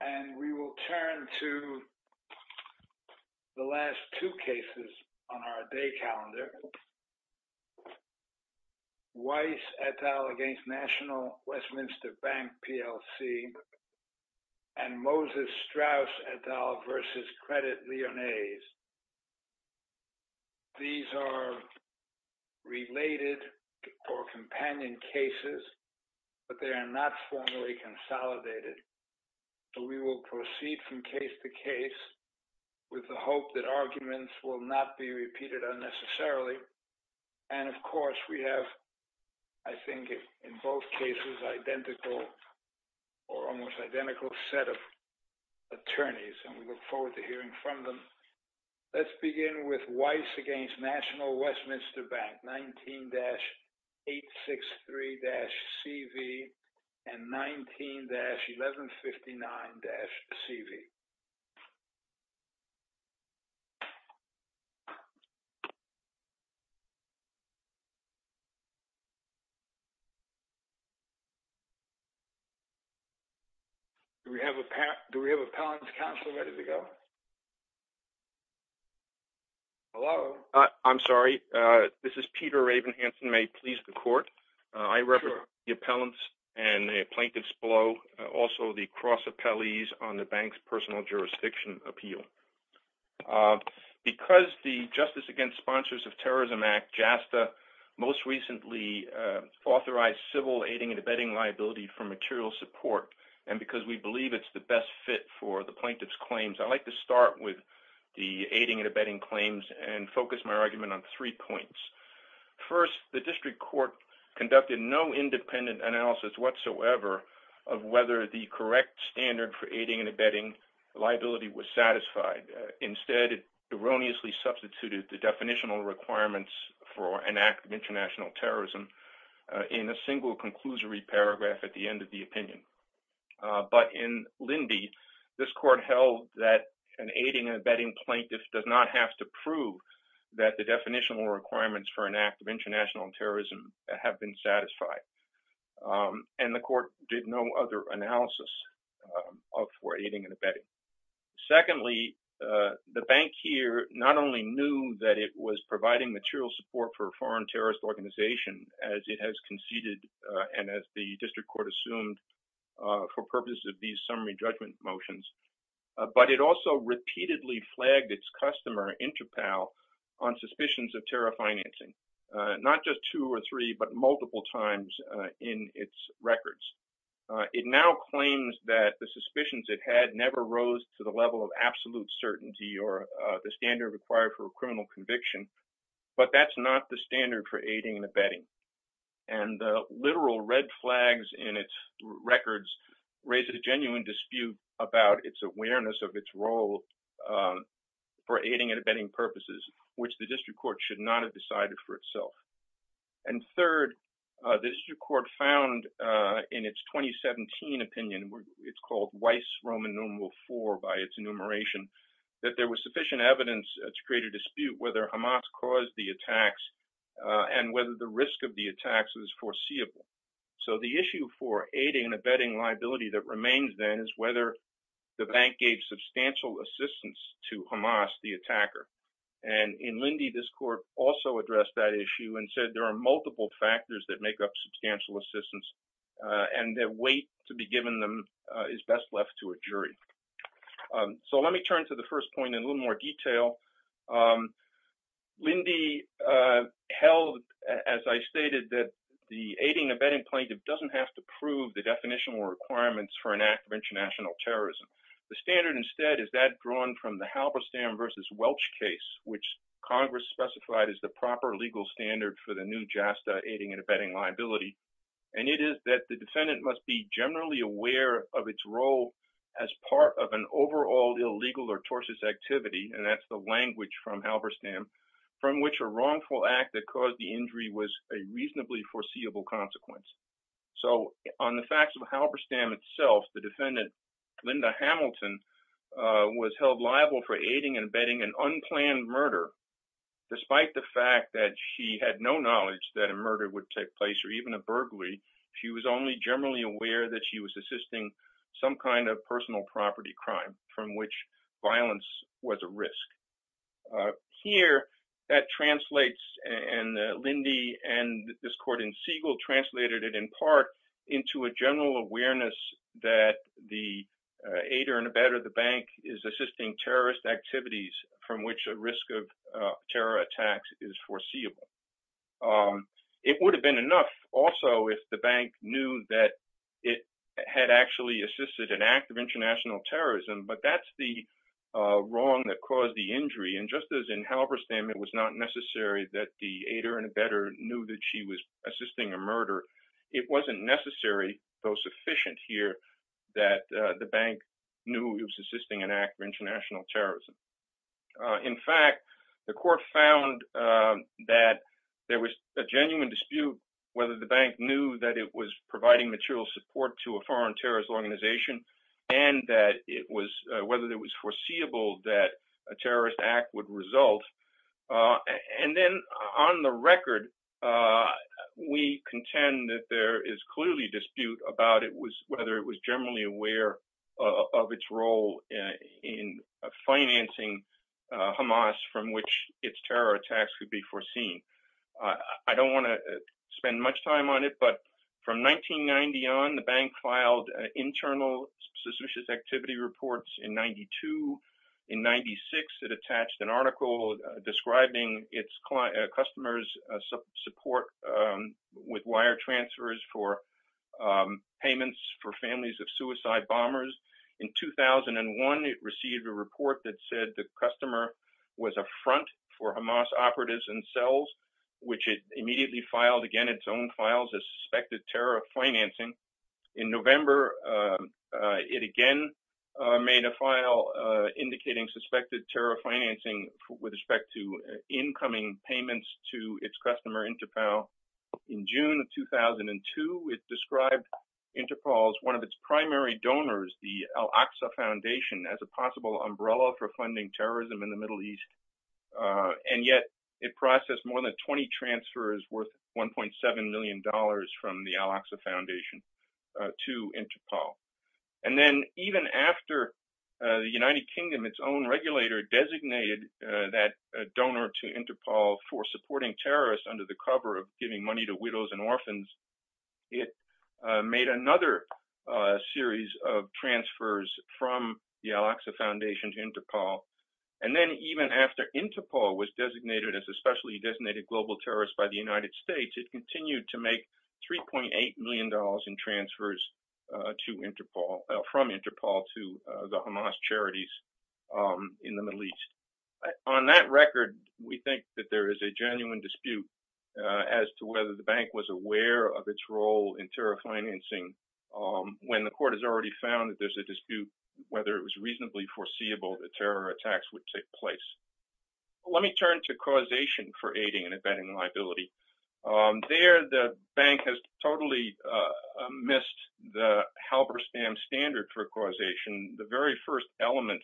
And we will turn to the last two cases on our day calendar. Weiss et al. v. National Westminster Bank PLC and Moses Strauss et al. v. Credit Lyonnais. These are related or companion cases, but they are not formally consolidated. We will proceed from case to case with the hope that arguments will not be repeated unnecessarily. And of course, we have, I think, in both cases, identical or almost identical set of attorneys, and we look forward to hearing from them. Let's begin with Weiss v. National v. National Westminster Bank PLC and Moses Strauss et al. v. Credit Lyonnais. Do we have an appellant's counsel ready to go? Hello? I'm sorry. This is Peter Ravenhansen. May it please the court? I represent the appellants and the plaintiffs below, also the cross appellees on the bank's personal jurisdiction appeal. Because the Justice Against Sponsors of Terrorism Act, JASTA, most recently authorized civil aiding and abetting liability for material support, and because we believe it's the best fit for the plaintiff's claims, I'd like to start with the aiding and abetting claims and focus my argument on three points. First, the district court conducted no independent analysis whatsoever of whether the correct standard for aiding and abetting liability was satisfied. Instead, it erroneously substituted the definitional requirements for an act of international terrorism in a single conclusory paragraph at the end of the opinion. But in Lindy, this court held that an aiding and abetting plaintiff does not have to prove that the definitional requirements for an act of international terrorism have been satisfied. And the court did no other analysis for aiding and abetting. Secondly, the bank here not only knew that it was providing material support for a foreign terrorist organization as it has conceded, and as the district court assumed for purposes of these summary judgment motions, but it also repeatedly flagged its customer, Intrapal, on suspicions of terror financing, not just two or three, but multiple times in its records. It now claims that the suspicions it had never rose to the level of absolute certainty or the standard required for a criminal conviction, but that's not the standard for aiding and abetting. And the literal red flags in its records raised a genuine dispute about its awareness of its role for aiding and abetting purposes, which the district court should not have decided for itself. And third, the district court found in its 2017 opinion, it's called Weiss Roman Numeral 4 by its enumeration, that there was sufficient evidence to create a dispute whether Hamas caused the attacks and whether the risk of the attacks was foreseeable. So the issue for aiding and abetting liability that remains then is whether the bank gave substantial assistance to Hamas, the attacker. And in Lindy, this court also addressed that issue and said there are multiple factors that make up substantial assistance and that weight to be given them is best left to a first point in a little more detail. Lindy held, as I stated, that the aiding and abetting plaintiff doesn't have to prove the definitional requirements for an act of international terrorism. The standard instead is that drawn from the Halberstam versus Welch case, which Congress specified as the proper legal standard for the new JASTA aiding and abetting liability. And it is that the defendant must be generally aware of its role as part of an overall illegal tortious activity, and that's the language from Halberstam, from which a wrongful act that caused the injury was a reasonably foreseeable consequence. So on the facts of Halberstam itself, the defendant, Linda Hamilton, was held liable for aiding and abetting an unplanned murder. Despite the fact that she had no knowledge that a murder would take place or even a burglary, she was only generally aware that she was assisting some kind of personal property crime from which violence was a risk. Here, that translates, and Lindy and this court in Siegel translated it in part into a general awareness that the aider and abetter of the bank is assisting terrorist activities from which a risk of terror attacks is foreseeable. It would have been enough also if the bank knew that it had actually assisted an act of international terrorism, but that's the wrong that caused the injury. And just as in Halberstam it was not necessary that the aider and abetter knew that she was assisting a murder, it wasn't necessary, though sufficient here, that the bank knew it was assisting an act of international terrorism. In fact, the court found that there was a genuine dispute whether the bank knew that it was providing material support to a foreign terrorist organization and whether it was foreseeable that a terrorist act would result. And then on the record, we contend that there is clearly dispute whether it was generally aware of its role in financing Hamas from which its terror attacks could be foreseen. I don't want to spend much time on it, but from 1990 on, the bank filed internal suspicious activity reports in 92. In 96, it attached an article describing its customers' support with wire transfers for payments for families of suicide bombers. In 2001, it received a report that said the customer was a front for Hamas operatives and cells, which it immediately filed again its own files as suspected terror financing. In November, it again made a file indicating suspected terror financing with respect to incoming payments to its customer Interpol. In June of 2002, it described Interpol as one of its primary donors, the Al-Aqsa Foundation, as a possible umbrella for funding terrorism in the Middle East. And yet, it processed more than 20 transfers worth $1.7 million from the Al-Aqsa Foundation to Interpol. And then even after the United Kingdom, its own regulator, designated that donor to Interpol for supporting terrorists under the cover of giving money to widows and orphans, it made another series of transfers from the Al-Aqsa Foundation to Interpol. And then even after Interpol was designated as a specially designated global terrorist by the United States, it continued to make $3.8 million in transfers from Interpol to the Hamas charities in the Middle East. On that record, we think that there is a genuine dispute as to whether the bank was aware of its role in terror financing when the court has already found that there's a dispute whether it was reasonably foreseeable that terror attacks would take place. Let me turn to causation for Hamas. There, the bank has totally missed the Halberstam standard for causation. The very first element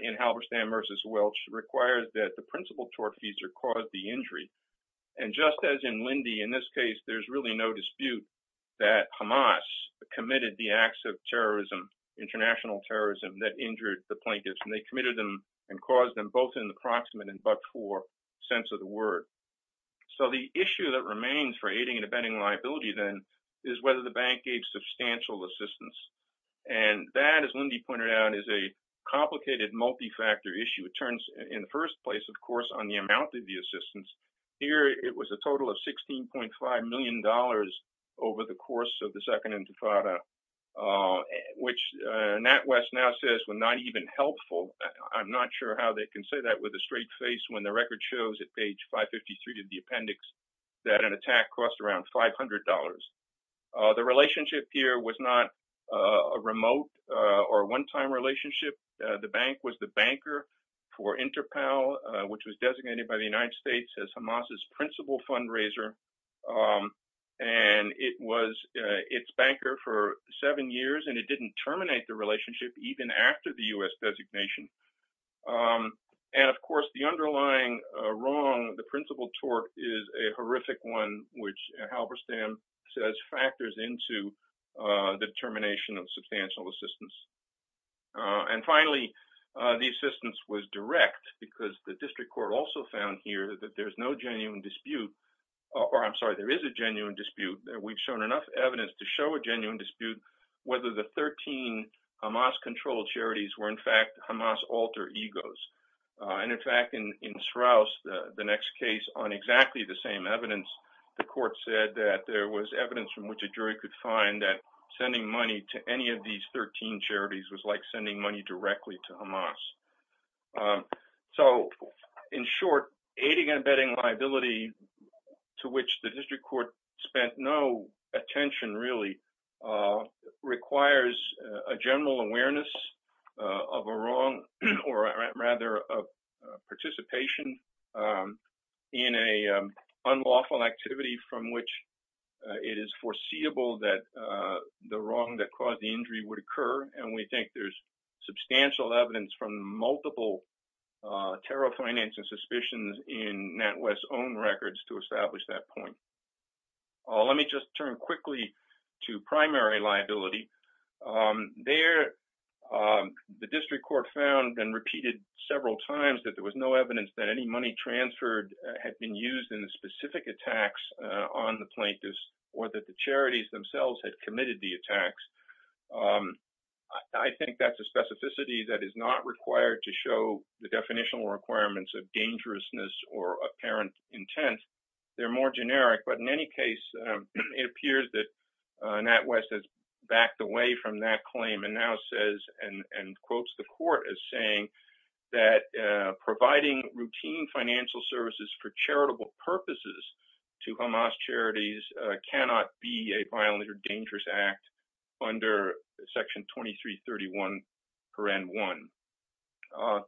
in Halberstam v. Welch requires that the principal tortfeasor cause the injury. And just as in Lindy, in this case, there's really no dispute that Hamas committed the acts of terrorism, international terrorism, that injured the plaintiffs. And they committed them and caused them both in the proximate and but-for sense of the word. So the issue that remains for aiding and abetting liability then is whether the bank gave substantial assistance. And that, as Lindy pointed out, is a complicated multi-factor issue. It turns in the first place, of course, on the amount of the assistance. Here, it was a total of $16.5 million over the course of the with a straight face when the record shows at page 553 of the appendix that an attack cost around $500. The relationship here was not a remote or one-time relationship. The bank was the banker for Interpal, which was designated by the United States as Hamas's principal fundraiser. And it was its banker for seven years, and it didn't terminate the relationship even after the U.S. designation. And of course, the underlying wrong, the principal tort is a horrific one, which Halberstam says factors into the termination of substantial assistance. And finally, the assistance was direct because the district court also found here that there's no genuine dispute, or I'm sorry, there is a genuine dispute. We've shown enough evidence to show a genuine dispute, whether the 13 Hamas-controlled charities were in fact Hamas alter egos. And in fact, in Straus, the next case on exactly the same evidence, the court said that there was evidence from which a jury could find that sending money to any of these 13 charities was like sending money directly to Hamas. So in short, aiding and abetting liability to which the district court spent no attention really requires a general awareness of a wrong, or rather of participation in an unlawful activity from which it is foreseeable that the wrong that caused the injury would occur. And we think there's substantial evidence from multiple tariff financing suspicions in NatWest's own records to establish that point. Let me just turn quickly to primary liability. There, the district court found and repeated several times that there was no evidence that any money transferred had been used in the specific attacks on the plaintiffs, or that the charities themselves had committed the attacks. I think that's a specificity that is not required to show the definitional requirements of dangerousness or apparent intent. They're more generic, but in any case, it appears that NatWest has backed away from that claim and now says and quotes the court as saying that providing routine financial services for charitable purposes to Hamas charities cannot be a violent or dangerous act under Section 2331, Paragraph 1.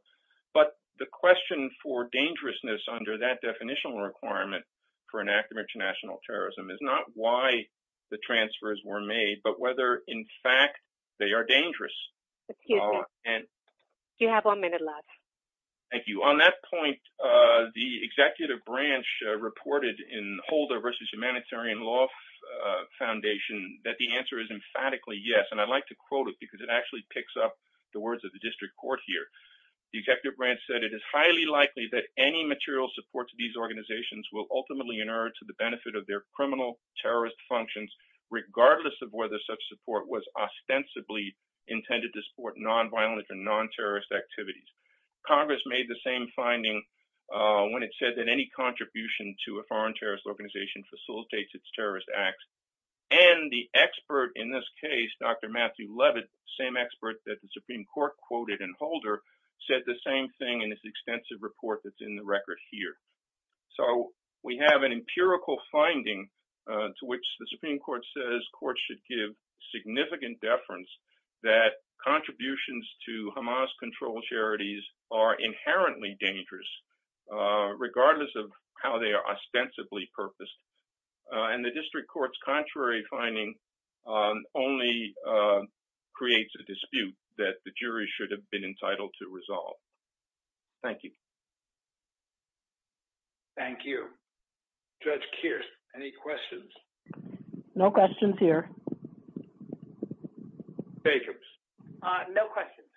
But the question for dangerousness under that definitional requirement for an act of international terrorism is not why the transfers were made, but whether in fact they are dangerous. Excuse me. You have one minute left. Thank you. On that point, the executive branch reported in Holder v. Humanitarian Law Foundation that the answer is emphatically yes, and I'd like to quote it because it actually picks up the words of the district court here. The executive branch said, it is highly likely that any material support to these organizations will ultimately inert to the benefit of their criminal terrorist functions, regardless of whether such support was ostensibly intended to support non-violent or non-terrorist activities. Congress made the same finding when it said that any contribution to a foreign organization facilitates its terrorist acts. And the expert in this case, Dr. Matthew Levitt, same expert that the Supreme Court quoted in Holder, said the same thing in this extensive report that's in the record here. So we have an empirical finding to which the Supreme Court says courts should give significant deference that contributions to Hamas-controlled charities are inherently dangerous, regardless of how they are ostensibly purposed. And the district court's contrary finding only creates a dispute that the jury should have been entitled to resolve. Thank you. Thank you. Judge Kearse, any questions? No questions here. Jacobs? No questions.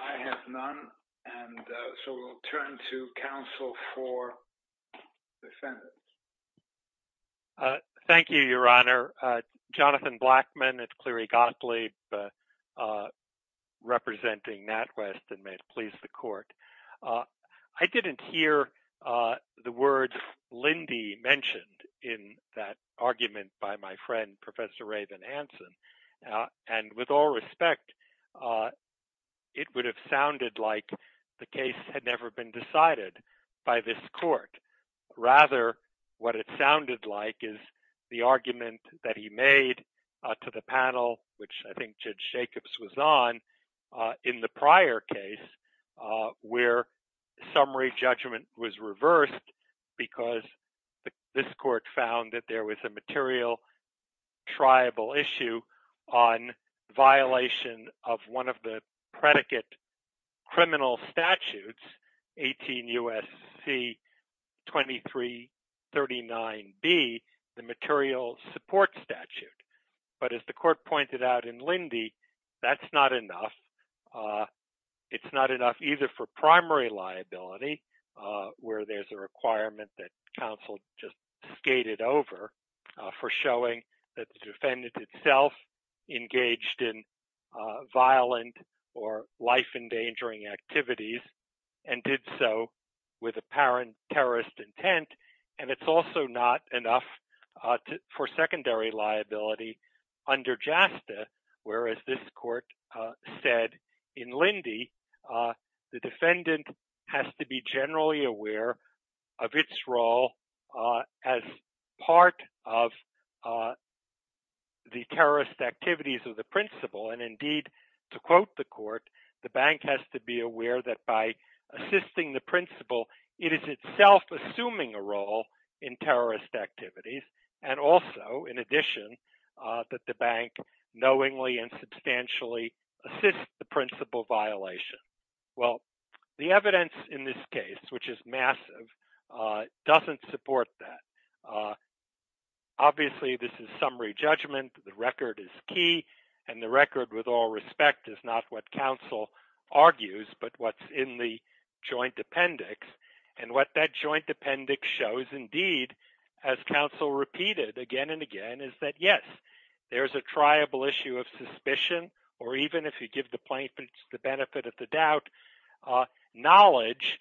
I have none. And so we'll turn to counsel for defendants. Thank you, Your Honor. Jonathan Blackman at Cleary Gottlieb, representing NatWest, and may it please the court. I didn't hear the words, Lindy mentioned in that argument by my friend, Professor Raven Hansen. And with all respect, it would have sounded like the case had never been decided by this court. Rather, what it sounded like is the argument that he made to the panel, which I think Judge Jacobs was on, in the prior case, where summary judgment was reversed, because this court found that there was a material triable issue on violation of one of the predicate criminal statutes, 18 U.S.C. 2339B, the material support statute. But as the court pointed out in Lindy, that's not enough. It's not enough either for primary liability, where there's a requirement that counsel just gate it over for showing that the defendant itself engaged in violent or life endangering activities and did so with apparent terrorist intent. And it's also not enough for secondary liability under JASTA, whereas this court said in Lindy, the defendant has to be generally aware of its role as part of the terrorist activities of the principal. And indeed, to quote the court, the bank has to be aware that by assisting the principal, it is itself assuming a role in terrorist activities. And also, in addition, that the bank knowingly and substantially assists the principal violation. Well, the evidence in this case, which is massive, doesn't support that. Obviously, this is summary judgment. The record is key. And the record, with all respect, is not what counsel argues, but what's in the joint appendix. And what that joint appendix shows, indeed, as counsel repeated again and again, is that, yes, there's a triable issue of suspicion, or even if you give the plaintiff the benefit of the doubt, knowledge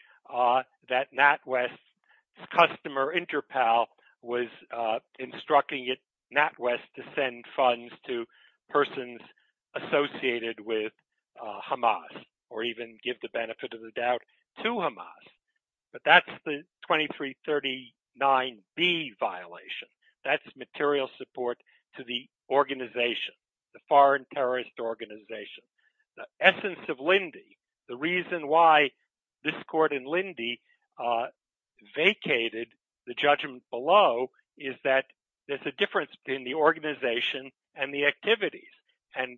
that NatWest's customer, Interpal, was instructing NatWest to send funds to persons associated with Hamas, or even give the benefit of the doubt to Hamas. But that's the 2339B violation. That's the 2339B violation. And the plaintiff's claim is that the bank is not giving the material support to the organization, the foreign terrorist organization. The essence of Linde, the reason why this court in Linde vacated the judgment below is that there's a difference in the organization and the activities. And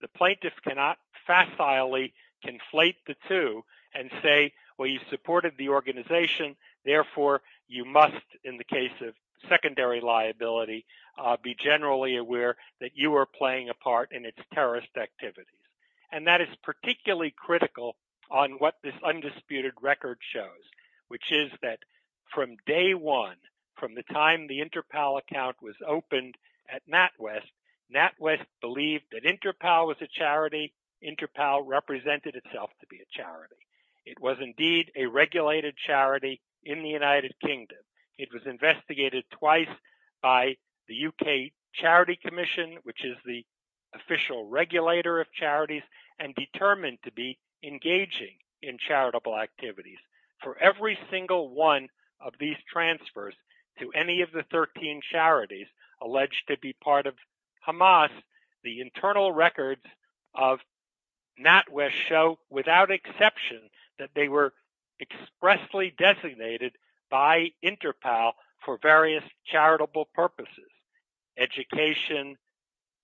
the plaintiff cannot facilely conflate the two and say, well, you supported the organization. Therefore, you must, in the case of secondary liability, be generally aware that you are playing a part in its terrorist activities. And that is particularly critical on what this undisputed record shows, which is that from day was opened at NatWest, NatWest believed that Interpal was a charity, Interpal represented itself to be a charity. It was indeed a regulated charity in the United Kingdom. It was investigated twice by the UK Charity Commission, which is the official regulator of charities, and determined to be engaging in charitable activities. For every single one of these transfers to any of the 13 charities alleged to be part of Hamas, the internal records of NatWest show without exception that they were expressly designated by Interpal for various charitable purposes, education,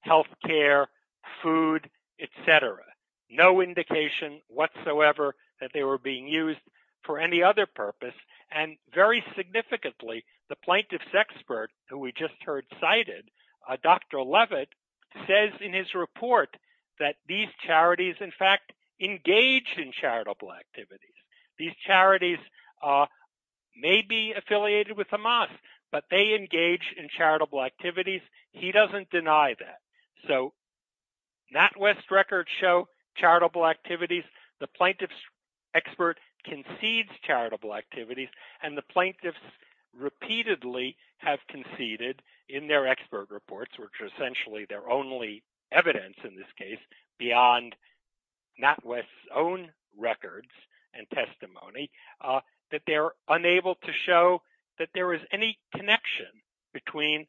health care, food, etc. No indication whatsoever that they were being used for any other purpose. And very significantly, the plaintiff's expert, who we just heard cited, Dr. Levitt, says in his report that these charities, in fact, engage in charitable activities. These charities may be affiliated with Hamas, but they engage in charitable activities. He doesn't deny that. So NatWest records show charitable activities. The plaintiff's expert concedes charitable activities, and the plaintiffs repeatedly have conceded in their expert reports, which are essentially their only evidence in this case, beyond NatWest's own records and testimony, that they're unable to show that there is any connection between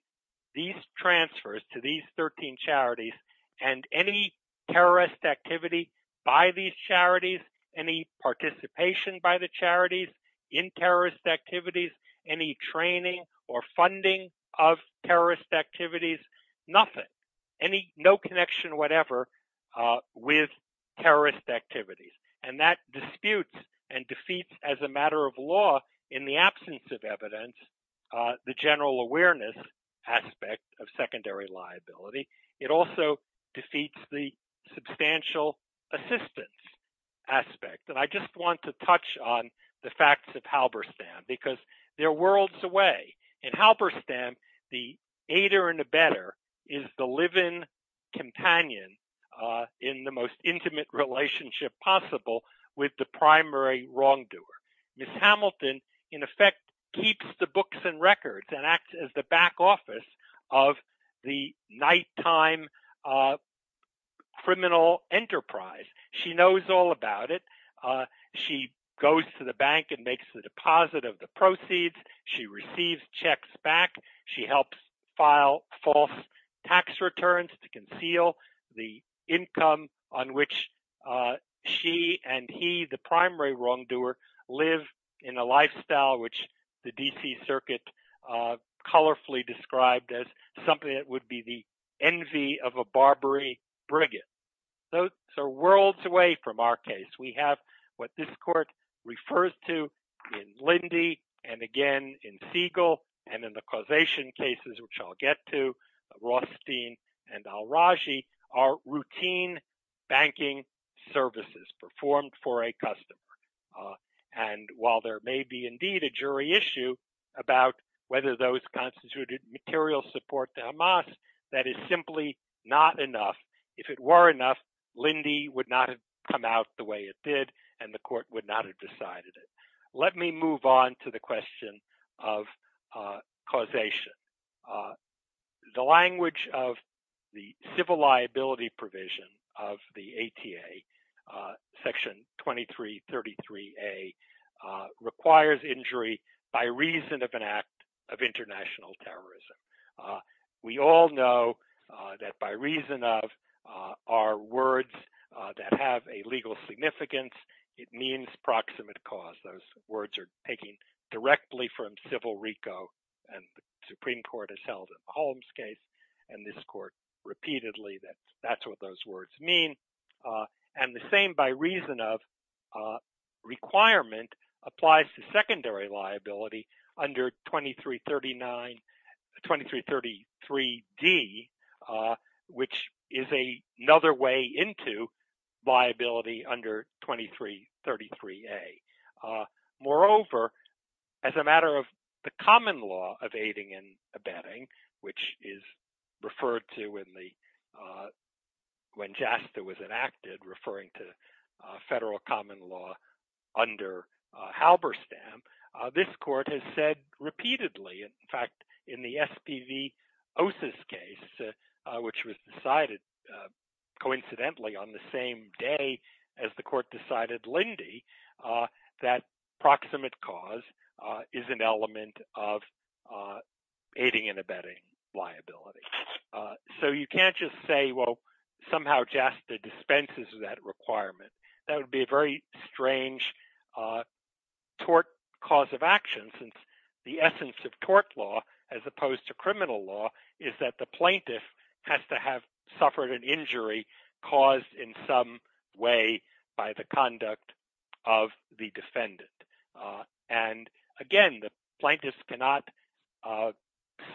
these transfers to these 13 charities and any terrorist activity by these charities, any participation by the charities in terrorist activities, any training or funding of terrorist activities, nothing. No connection whatever with terrorist activities. And that disputes and defeats, as a matter of law, in the absence of evidence, the general awareness aspect of secondary liability. It also defeats the substantial assistance aspect. And I just want to touch on the facts of Halberstam, because they're worlds away. In Halberstam, the aider and abetter is the live-in companion in the most intimate relationship possible with the primary wrongdoer. Ms. Hamilton, in effect, keeps the books and records and acts as the back office of the nighttime criminal enterprise. She knows all about it. She goes to the bank and makes the deposit of the proceeds. She receives checks back. She helps file false tax returns to conceal the income on which she and he, the primary wrongdoer, live in a lifestyle which the D.C. Circuit colorfully described as something that would be the envy of a Barbary brigand. So worlds away from our case. We have what this court refers to in Lindy and again in Siegel and in the causation cases which I'll get to, Rothstein and Al-Raji are routine banking services performed for a customer. And while there may be indeed a jury issue about whether those constituted material support to Hamas, that is simply not enough. If it were enough, Lindy would not have come out the way it did and the court would not have decided it. Let me move on to the question of causation. The language of the civil liability provision of the A.T.A. Section 2333A requires injury by reason of an act of international terrorism. We all know that by reason of are words that have a legal significance. It means proximate cause. Those words are taking directly from civil RICO and the Supreme Court has held a Holmes case and this court repeatedly that that's what those words mean. And the same by reason of requirement applies to secondary liability under 2333D, which is another way into liability under 2333A. Moreover, as a matter of the common law of aiding and abetting, which is referred to when JASTA was enacted, referring to federal common law under Halberstam, this court has said repeatedly, in fact, in the SPV OSIS case, which was decided coincidentally on the same day as the court decided Lindy, that proximate cause is an element of aiding and abetting liability. So you can't just say, well, somehow JASTA dispenses that requirement. That would be a very strange tort cause of action since the essence of tort law, as opposed to criminal law, is that the plaintiff has to have suffered an injury caused in some way by the conduct of the defendant. And again, the plaintiffs cannot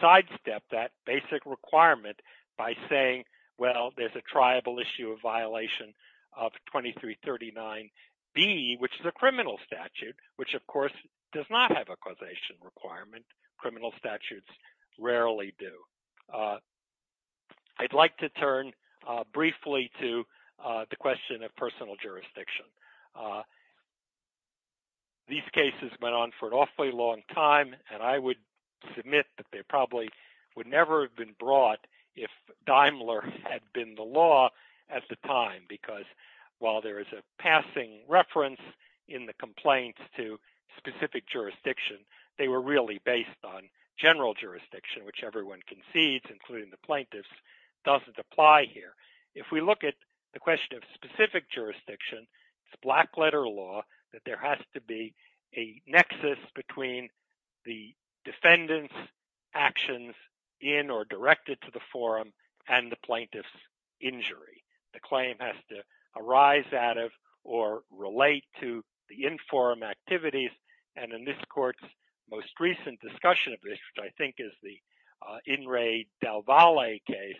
sidestep that basic requirement by saying, well, there's a tribal issue of violation of 2339B, which is a criminal statute, which of course does not have a causation requirement. Criminal statutes rarely do. I'd like to turn briefly to the question of personal jurisdiction. These cases went on for an awfully long time, and I would submit that they probably would never have been brought if Daimler had been the law at the time, because while there is a passing reference in the complaints to specific jurisdiction, they were really based on including the plaintiffs doesn't apply here. If we look at the question of specific jurisdiction, it's black letter law that there has to be a nexus between the defendant's actions in or directed to the forum and the plaintiff's injury. The claim has to arise out of or relate to the In re Del Valle case,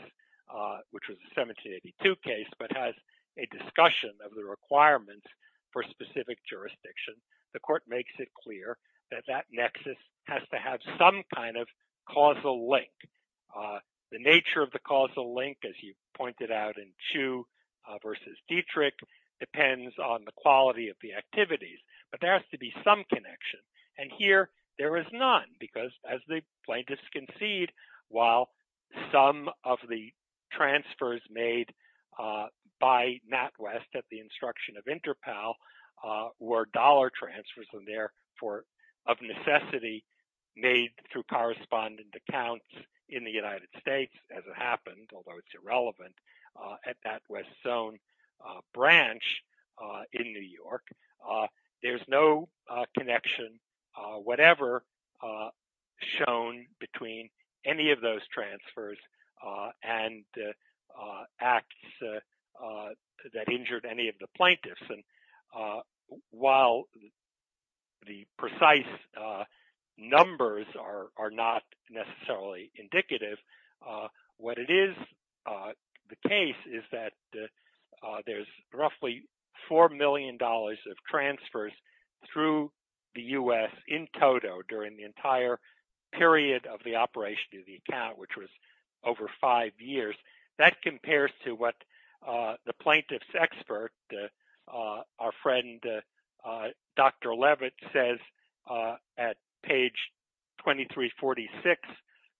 which was a 1782 case, but has a discussion of the requirements for specific jurisdiction. The court makes it clear that that nexus has to have some kind of causal link. The nature of the causal link, as you pointed out in Chu versus Dietrich, depends on the quality of the activities, but there has to be some connection. And here, there is none, because as the plaintiffs concede, while some of the transfers made by NatWest at the instruction of Interpol were dollar transfers of necessity made through correspondent accounts in the United States, as it happened, although it's irrelevant, at NatWest's own branch in New York, there's no connection, whatever, shown between any of those transfers and acts that injured any of the plaintiffs. And while the precise numbers are not necessarily indicative, what it is, the case is that there's roughly $4 million of transfers through the US in total during the entire period of the operation of the account, which was over five years. That compares to what the plaintiff's expert, our friend Dr. Levitt says at page 2346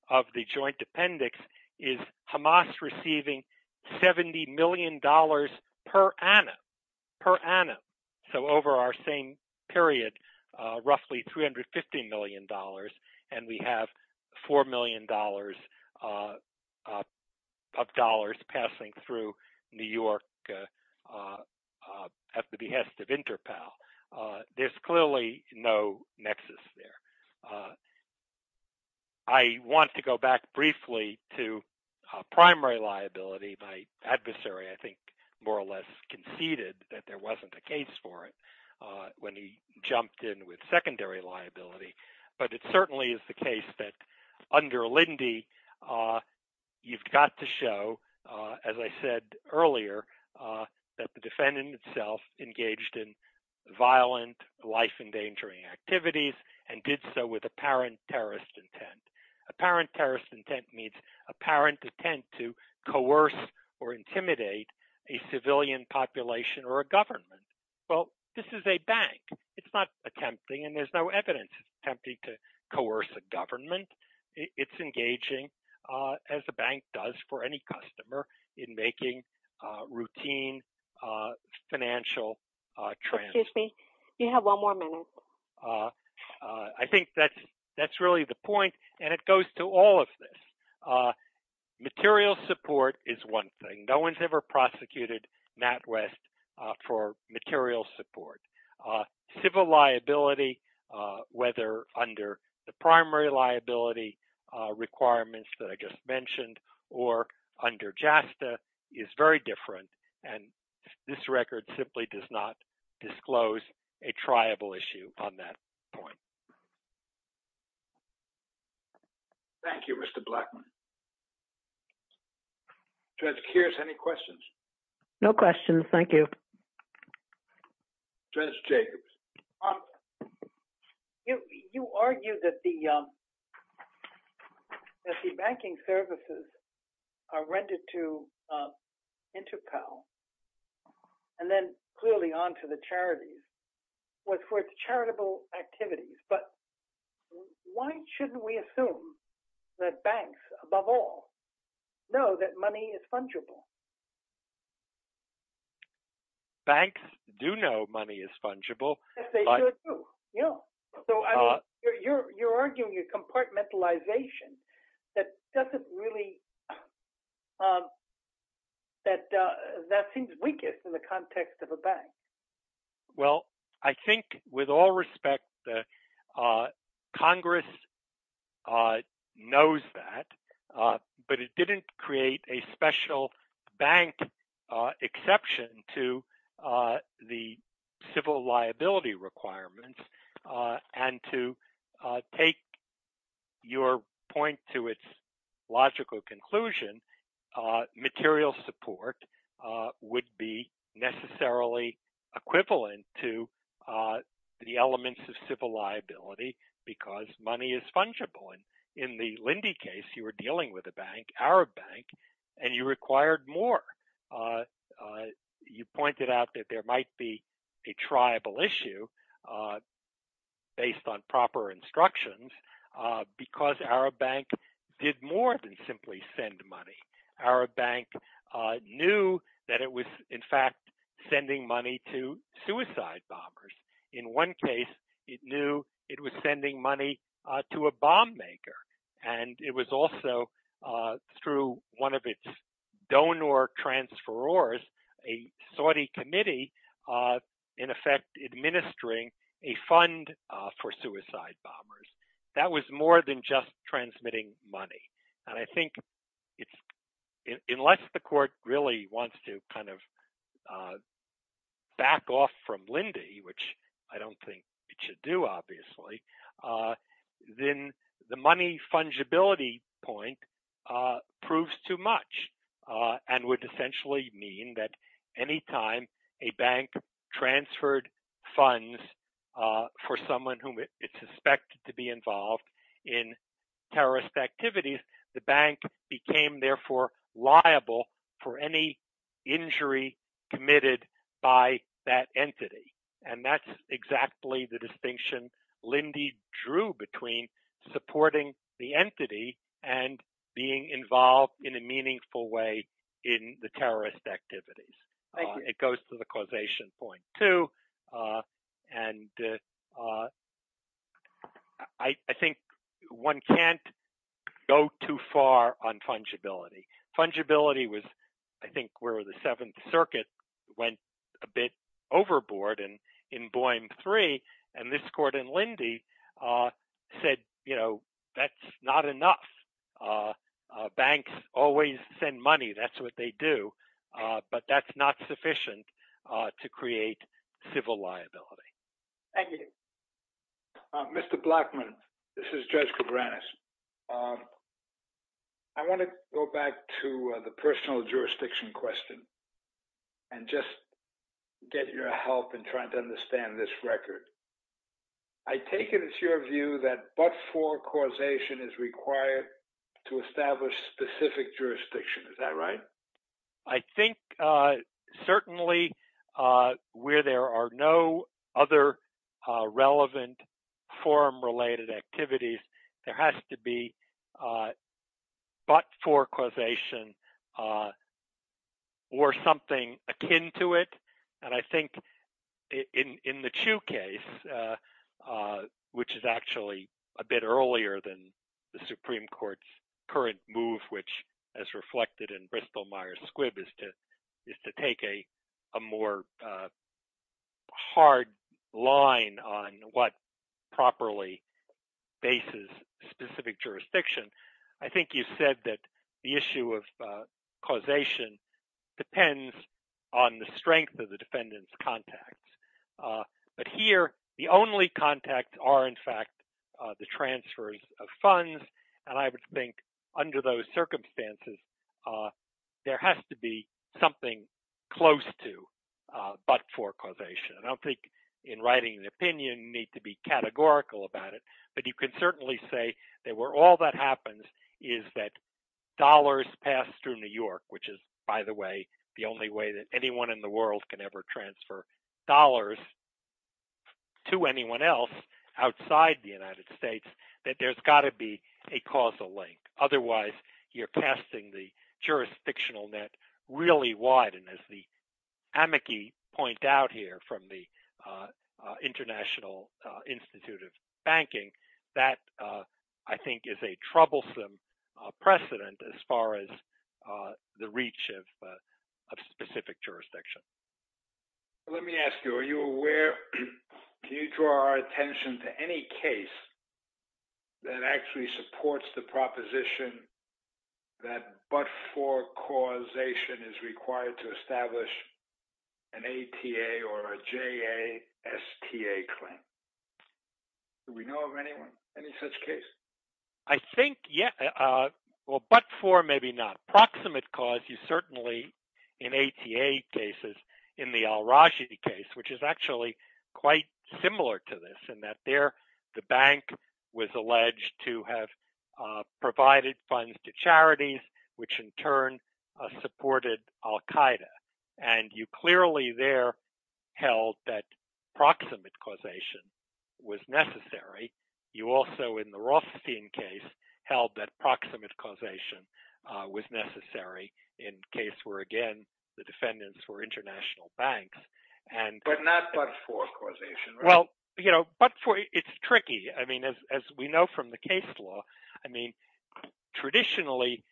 of the joint appendix, is Hamas receiving $70 million per annum, per annum. So over our same period, roughly $350 million, and we have $4 million of dollars passing through New York at the behest of Interpol. There's clearly no nexus there. I want to go back briefly to primary liability. My adversary, I think, more or less conceded that there wasn't a case for it when he jumped in with secondary liability. But it certainly is the case that under Lindy, you've got to show, as I said earlier, that the defendant himself engaged in violent, life-endangering activities and did so with apparent terrorist intent. Apparent terrorist intent means apparent attempt to coerce or intimidate a civilian population or a government. Well, this is a bank. It's not attempting, and there's no evidence it's attempting to coerce a government. It's engaging, as the bank does for any customer, in making routine financial transactions. Excuse me. You have one more minute. I think that's really the point, and it goes to all of this. Material support is one thing. No one's ever prosecuted NatWest for material support. Civil liability, whether under the primary liability requirements that I just mentioned or under JASTA, is very different, and this record simply does not disclose a triable issue on that point. Thank you, Mr. Blackman. Judge Keirs, any questions? No questions. Thank you. Judge Jacobs. You argued that the banking services are rented to InterPAL, and then clearly on to the charities, for its charitable activities, but why shouldn't we assume that banks above and beyond the law of all know that money is fungible? Banks do know money is fungible. Yes, they sure do. You're arguing a compartmentalization that doesn't really, that seems weakest in the context of a bank. Well, I think with all respect, Congress knows that, but it didn't create a special bank exception to the civil liability requirements, and to take your point to its logical conclusion, material support would be necessarily equivalent to the elements of civil liability because money is fungible, and in the Lindy case, you were dealing with a bank, Arab Bank, and you required more. You pointed out that there might be a triable issue based on proper instructions because Arab Bank did more than simply send money. Arab Bank knew that it was, in fact, sending money to suicide bombers. In one case, it knew it was sending money to a bomb maker, and it was also, through one of its donor transferors, a Saudi committee, in effect, administering a fund for suicide bombers. That was more than just transmitting money, and I think unless the court really wants to kind of back off from Lindy, which I don't think it should do, obviously, then the money fungibility point proves too much and would essentially mean that any time a bank transferred funds for someone whom it suspected to be involved in terrorist activities, the bank became, therefore, liable for any injury committed by that entity, and that's exactly the distinction Lindy drew between supporting the entity and being involved in a meaningful way in the terrorist activities. It goes to the causation point, too, and I think one can't go too far on fungibility. Fungibility was, I think, where the Seventh Circuit went a bit overboard in Boyne III, and this court in Lindy said, you know, that's not enough. Banks always send money. That's what they do, but that's not sufficient to create civil liability. Thank you. Mr. Blackman, this is Judge Cabranes. I want to go back to the personal jurisdiction question and just get your help in trying to understand this record. I take it it's your view that but-for causation is required to establish specific jurisdiction. Is that right? I think, certainly, where there are no other relevant forum-related activities, there has to be but-for causation or something akin to it, and I think in the Chu case, which is actually a bit earlier than the Supreme Court's current move, which, as reflected in specific jurisdiction, I think you said that the issue of causation depends on the strength of the defendant's contacts. But here, the only contacts are, in fact, the transfers of funds, and I would think, under those circumstances, there has to be something close to but-for causation. I don't in writing an opinion need to be categorical about it, but you can certainly say that where all that happens is that dollars pass through New York, which is, by the way, the only way that anyone in the world can ever transfer dollars to anyone else outside the United States, that there's got to be a causal link. Otherwise, you're casting the jurisdictional net really wide, and as the amici point out here from the International Institute of Banking, that, I think, is a troublesome precedent as far as the reach of specific jurisdiction. Let me ask you, are you aware, can you draw our attention to any case that actually supports the to establish an ATA or a JASTA claim? Do we know of anyone, any such case? I think, yeah, well, but-for, maybe not. Proximate cause, you certainly, in ATA cases, in the Al-Rajhi case, which is actually quite similar to this, in that there, the bank was and you clearly there held that proximate causation was necessary. You also, in the Rothstein case, held that proximate causation was necessary in case where, again, the defendants were international banks. But not but-for causation, right? Well, you know, but-for, it's tricky. I mean, as we know from the case law, I mean, traditionally,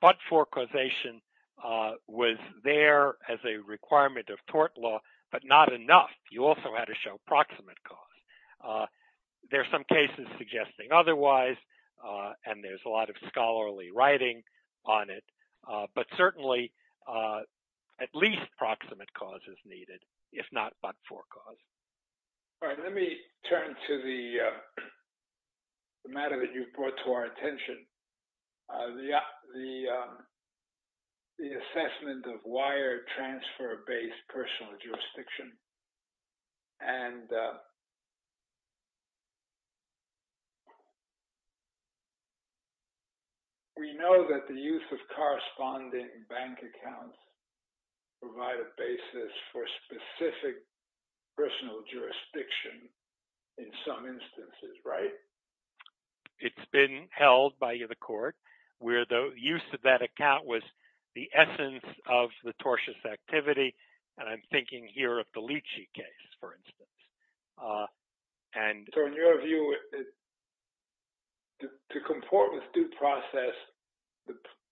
but-for causation was there as a requirement of tort law, but not enough. You also had to show proximate cause. There are some cases suggesting otherwise, and there's a lot of scholarly writing on it, but certainly, at least proximate cause is needed, if not but-for cause. All right. Let me turn to the matter that you've brought to our attention, the assessment of wire transfer-based personal jurisdiction. And we know that the use of corresponding bank accounts provide a basis for specific personal jurisdiction in some instances, right? It's been held by the court where the use of that account was the essence of the tortious activity, and I'm thinking here of the Lychee case, for instance. And- So, in your view, to comport with due process,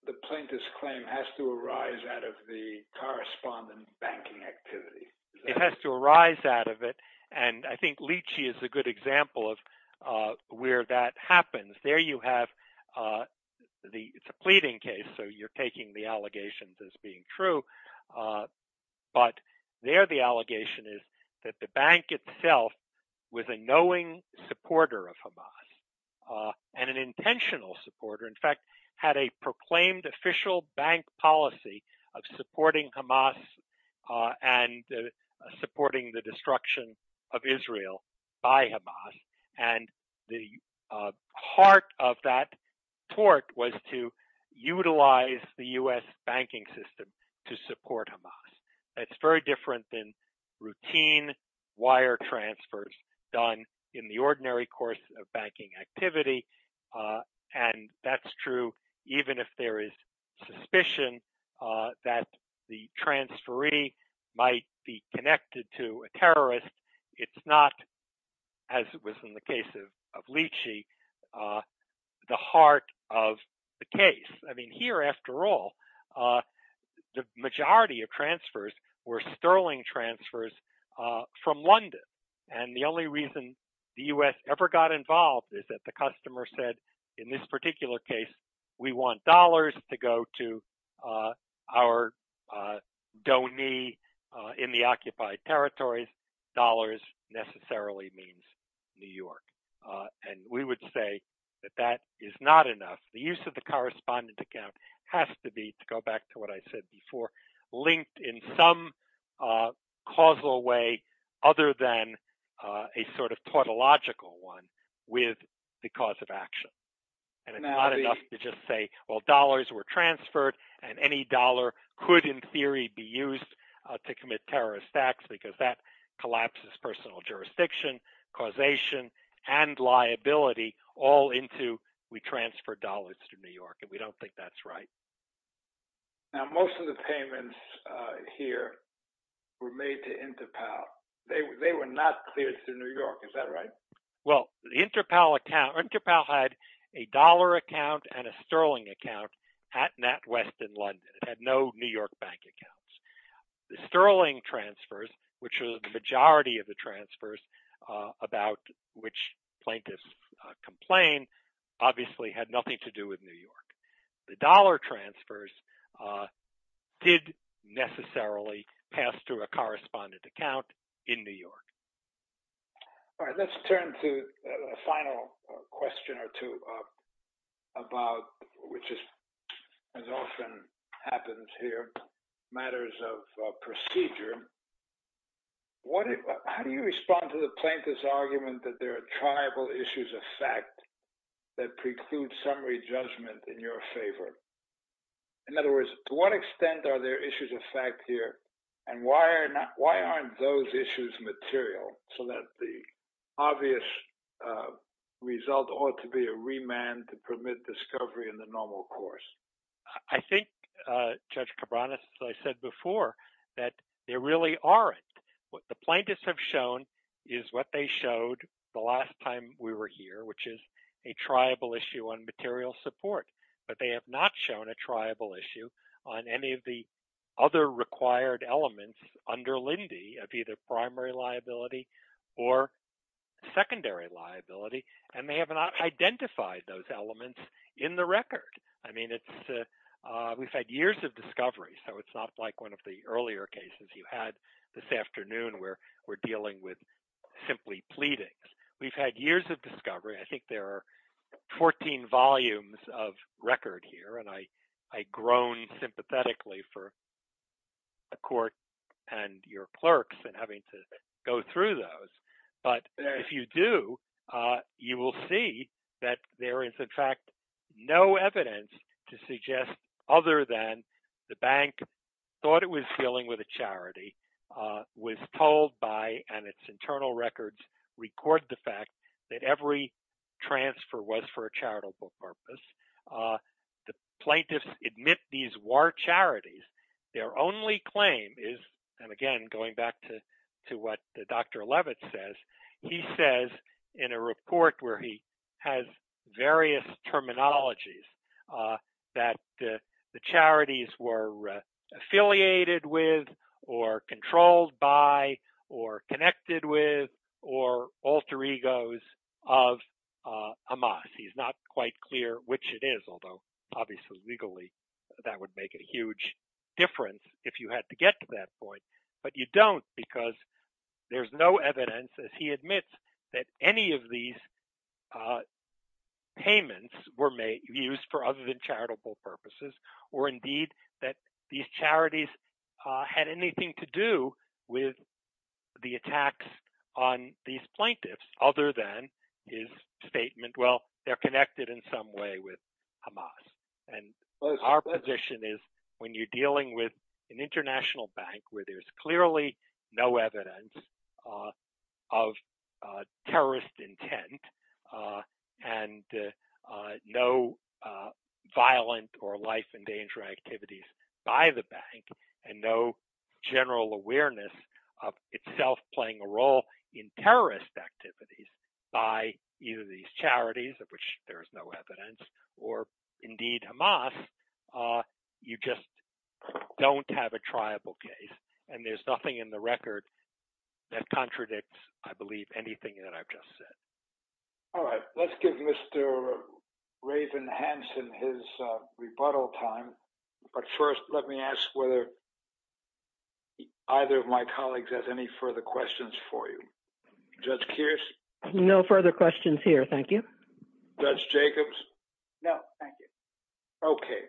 the plaintiff's claim has to arise out of the correspondent banking activity. It has to arise out of it, and I think Lychee is a good example of where that happens. There you have the-it's a pleading case, so you're taking the allegations as being true, but there the allegation is that the bank itself was a knowing supporter of Hamas, and an intentional supporter. In fact, had a proclaimed official bank policy of supporting Hamas and supporting the destruction of Israel by Hamas, and the heart of that tort was to utilize the U.S. banking system to support Hamas. That's very different than the ordinary course of banking activity, and that's true even if there is suspicion that the transferee might be connected to a terrorist. It's not, as it was in the case of Lychee, the heart of the case. I mean, here, after all, the majority of transfers were sterling transfers from London, and the only reason the U.S. ever got involved is that the customer said, in this particular case, we want dollars to go to our donee in the occupied territories. Dollars necessarily means New York, and we would say that that is not enough. The use of the U.S. bank was a causal way other than a sort of tautological one with the cause of action, and it's not enough to just say, well, dollars were transferred, and any dollar could, in theory, be used to commit terrorist acts, because that collapses personal jurisdiction, causation, and liability all into we transfer dollars to New York, and we don't think that's right. Now, most of the payments here were made to Interpol. They were not cleared to New York. Is that right? Well, the Interpol account, Interpol had a dollar account and a sterling account at NatWest in London. It had no New York bank accounts. The sterling transfers, which was the majority of the transfers about which plaintiffs complained, obviously had nothing to do with New York, but the sterling transfers did necessarily pass through a correspondent account in New York. All right, let's turn to a final question or two about, which is as often happens here, matters of procedure. How do you respond to the plaintiff's argument that there are tribal issues of fact that preclude summary judgment in your favor? In other words, to what extent are there issues of fact here, and why aren't those issues material so that the obvious result ought to be a remand to permit discovery in the normal course? I think, Judge Cabranes, as I said before, that there really aren't. What the plaintiffs have shown is what they showed the last time we were here, which is a tribal issue on material support, but they have not shown a tribal issue on any of the other required elements under LINDY of either primary liability or secondary liability, and they have not identified those elements in the record. I mean, we've had years of discovery, so it's not like one of the earlier cases you had this afternoon where we're dealing with simply pleadings. We've had years of discovery. I think there are 14 volumes of record here, and I groan sympathetically for the court and your clerks in having to go through those, but if you do, you will see that there is, in fact, no evidence to suggest other than the bank thought it was dealing with a charity, was told by, and its internal records record the fact that every transfer was for a charitable purpose. The plaintiffs admit these were charities. Their only claim is, and again, going back to what Dr. Levitt says, he says in a report where he has various terminologies that the charities were affiliated with or controlled by or connected with or alter egos of Hamas. He's not quite clear which it is, although obviously, legally, that would make a huge difference if you had to get to that point, but you don't because there's no evidence, as he admits, that any of these payments were used for other than charitable purposes or indeed that these charities had anything to do with the attacks on these plaintiffs other than his statement, well, they're connected in some way with Hamas, and our position is, when you're dealing with an international bank where there's clearly no evidence of terrorist intent and no violent or life and danger activities by the bank and no general awareness of itself playing a role in terrorist activities by either these charities, of which there is no evidence, or indeed Hamas, you just don't have a triable case, and there's nothing in the record that contradicts, I believe, anything that I've just said. All right, let's give Mr. Raven Hansen his rebuttal time, but first let me ask whether either of my colleagues has any further questions for you. Judge Kearse? No further questions here, thank you. Judge Jacobs? No, thank you. Okay,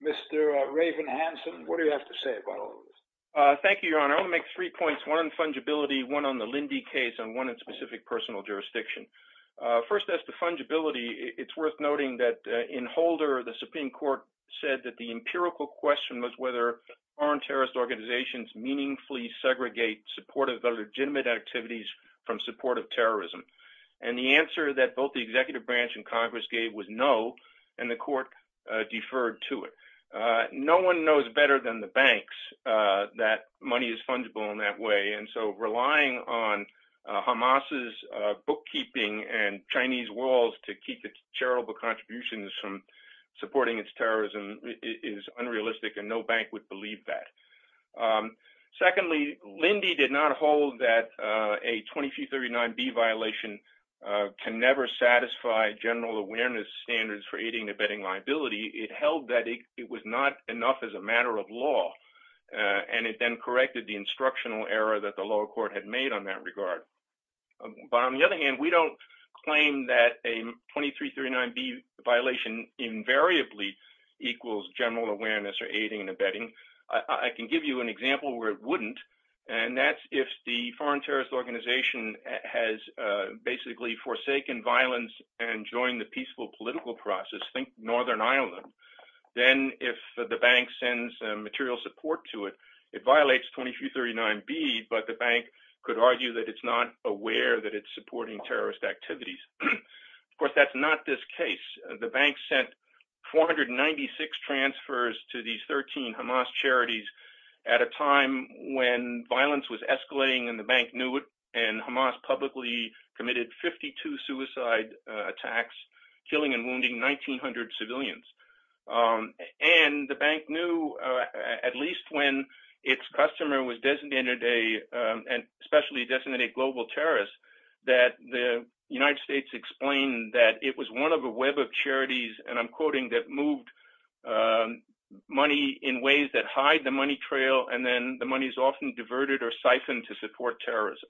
Mr. Raven Hansen, what do you have to say about all of this? Thank you, Your Honor. I want to make three points, one on fungibility, one on the Lindy case, and one in specific personal jurisdiction. First, as to fungibility, it's worth noting that in Holder, the Supreme Court said that the empirical question was whether foreign terrorist organizations meaningfully segregate support of illegitimate activities from support of terrorism, and the answer that both the executive branch and Congress gave was no, and the court deferred to it. No one knows better than the banks that money is fungible in that way, and so relying on Hamas' bookkeeping and Chinese walls to keep its charitable contributions from supporting its terrorism is unrealistic, and no bank would believe that. Secondly, Lindy did not hold that a 2239B violation can never satisfy general awareness standards for aiding and abetting liability. It held that it was not enough as a matter of law, and it then corrected the instructional error that the lower court had made on that regard. But on the other hand, we don't claim that a 2339B violation invariably equals general awareness or aiding and abetting. I can give you an example where it wouldn't, and that's if the foreign terrorist organization has basically forsaken violence and joined the peaceful political process. Think Northern Ireland. Then if the bank sends material support to it, it violates 2339B, but the bank could argue that it's not aware that it's supporting terrorist activities. Of course, that's not this case. The bank sent 496 transfers to these 13 Hamas charities at a time when violence was escalating and the bank knew it, and Hamas publicly committed 52 suicide attacks, killing and wounding 1,900 civilians. And the bank knew, at least when its customer was designated, and especially designated global terrorists, that the United States explained that it was one of a web of charities, and I'm quoting, that moved money in ways that hide the money trail, and then the money is often diverted or siphoned to support terrorism.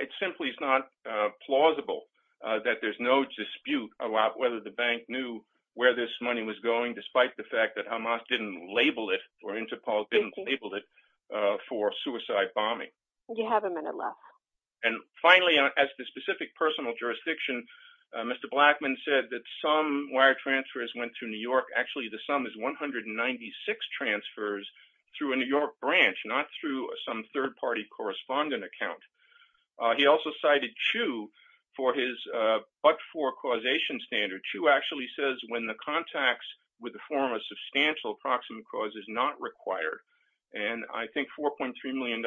It simply is not plausible that there's no dispute about whether the bank knew where this money was going, despite the fact that Hamas didn't label it, or Interpol didn't label it, for suicide bombing. You have a minute left. And finally, as to specific personal jurisdiction, Mr. Blackman said that some wire transfers went to New York. Actually, the sum is 196 transfers through a New York branch, not through some third-party correspondent account. He also cited Chu for his but-for causation standard. Chu actually says when the contacts with the form of substantial proximate cause is not required, and I think $4.3 million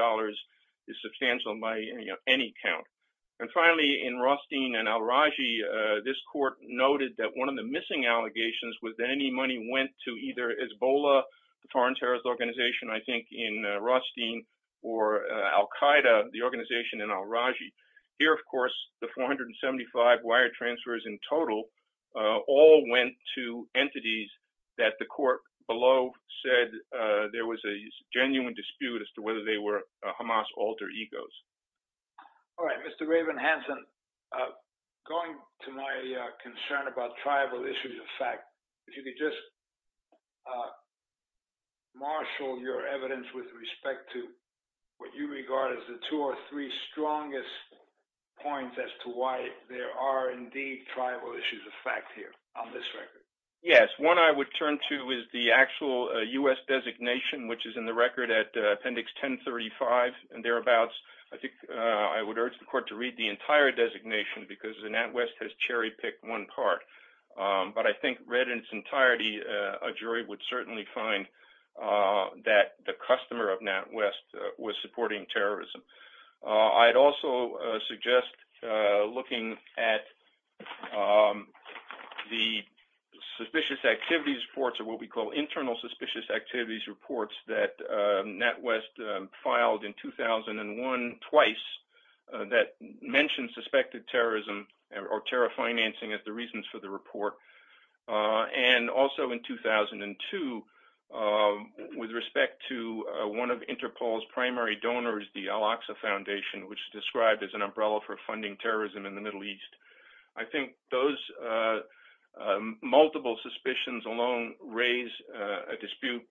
is substantial by any count. And finally, in Rothstein and Al-Raji, this court noted that one of the missing allegations was that any money went to either Rothstein or Al-Qaeda, the organization in Al-Raji. Here, of course, the 475 wire transfers in total all went to entities that the court below said there was a genuine dispute as to whether they were Hamas alter egos. All right, Mr. Raven-Hanson, going to my respect to what you regard as the two or three strongest points as to why there are indeed tribal issues of fact here on this record. Yes. One I would turn to is the actual U.S. designation, which is in the record at Appendix 1035 and thereabouts. I think I would urge the court to read the entire designation because the NatWest has cherry-picked one part. But I think read in its entirety, a jury would certainly find that the customer of NatWest was supporting terrorism. I'd also suggest looking at the suspicious activities reports or what we call internal suspicious activities reports that NatWest filed in 2001 twice that mentioned suspected terrorism or terror financing as the reasons for the report. And also in 2002, with respect to one of Interpol's primary donors, the Al-Aqsa Foundation, which is described as an umbrella for funding terrorism in the Middle East. I think those multiple suspicions alone raise a dispute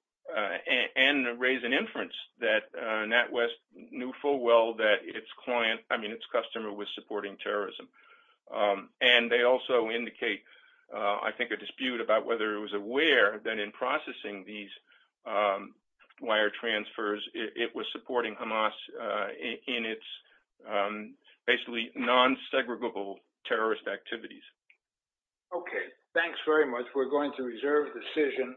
and raise an inference that NatWest knew full well that its client, I mean, its customer was supporting terrorism. And they also indicate, I think, a dispute about whether it was aware that in processing these wire transfers, it was supporting Hamas in its basically non-segregable terrorist activities. Okay. Thanks very much. We're going to reserve decision.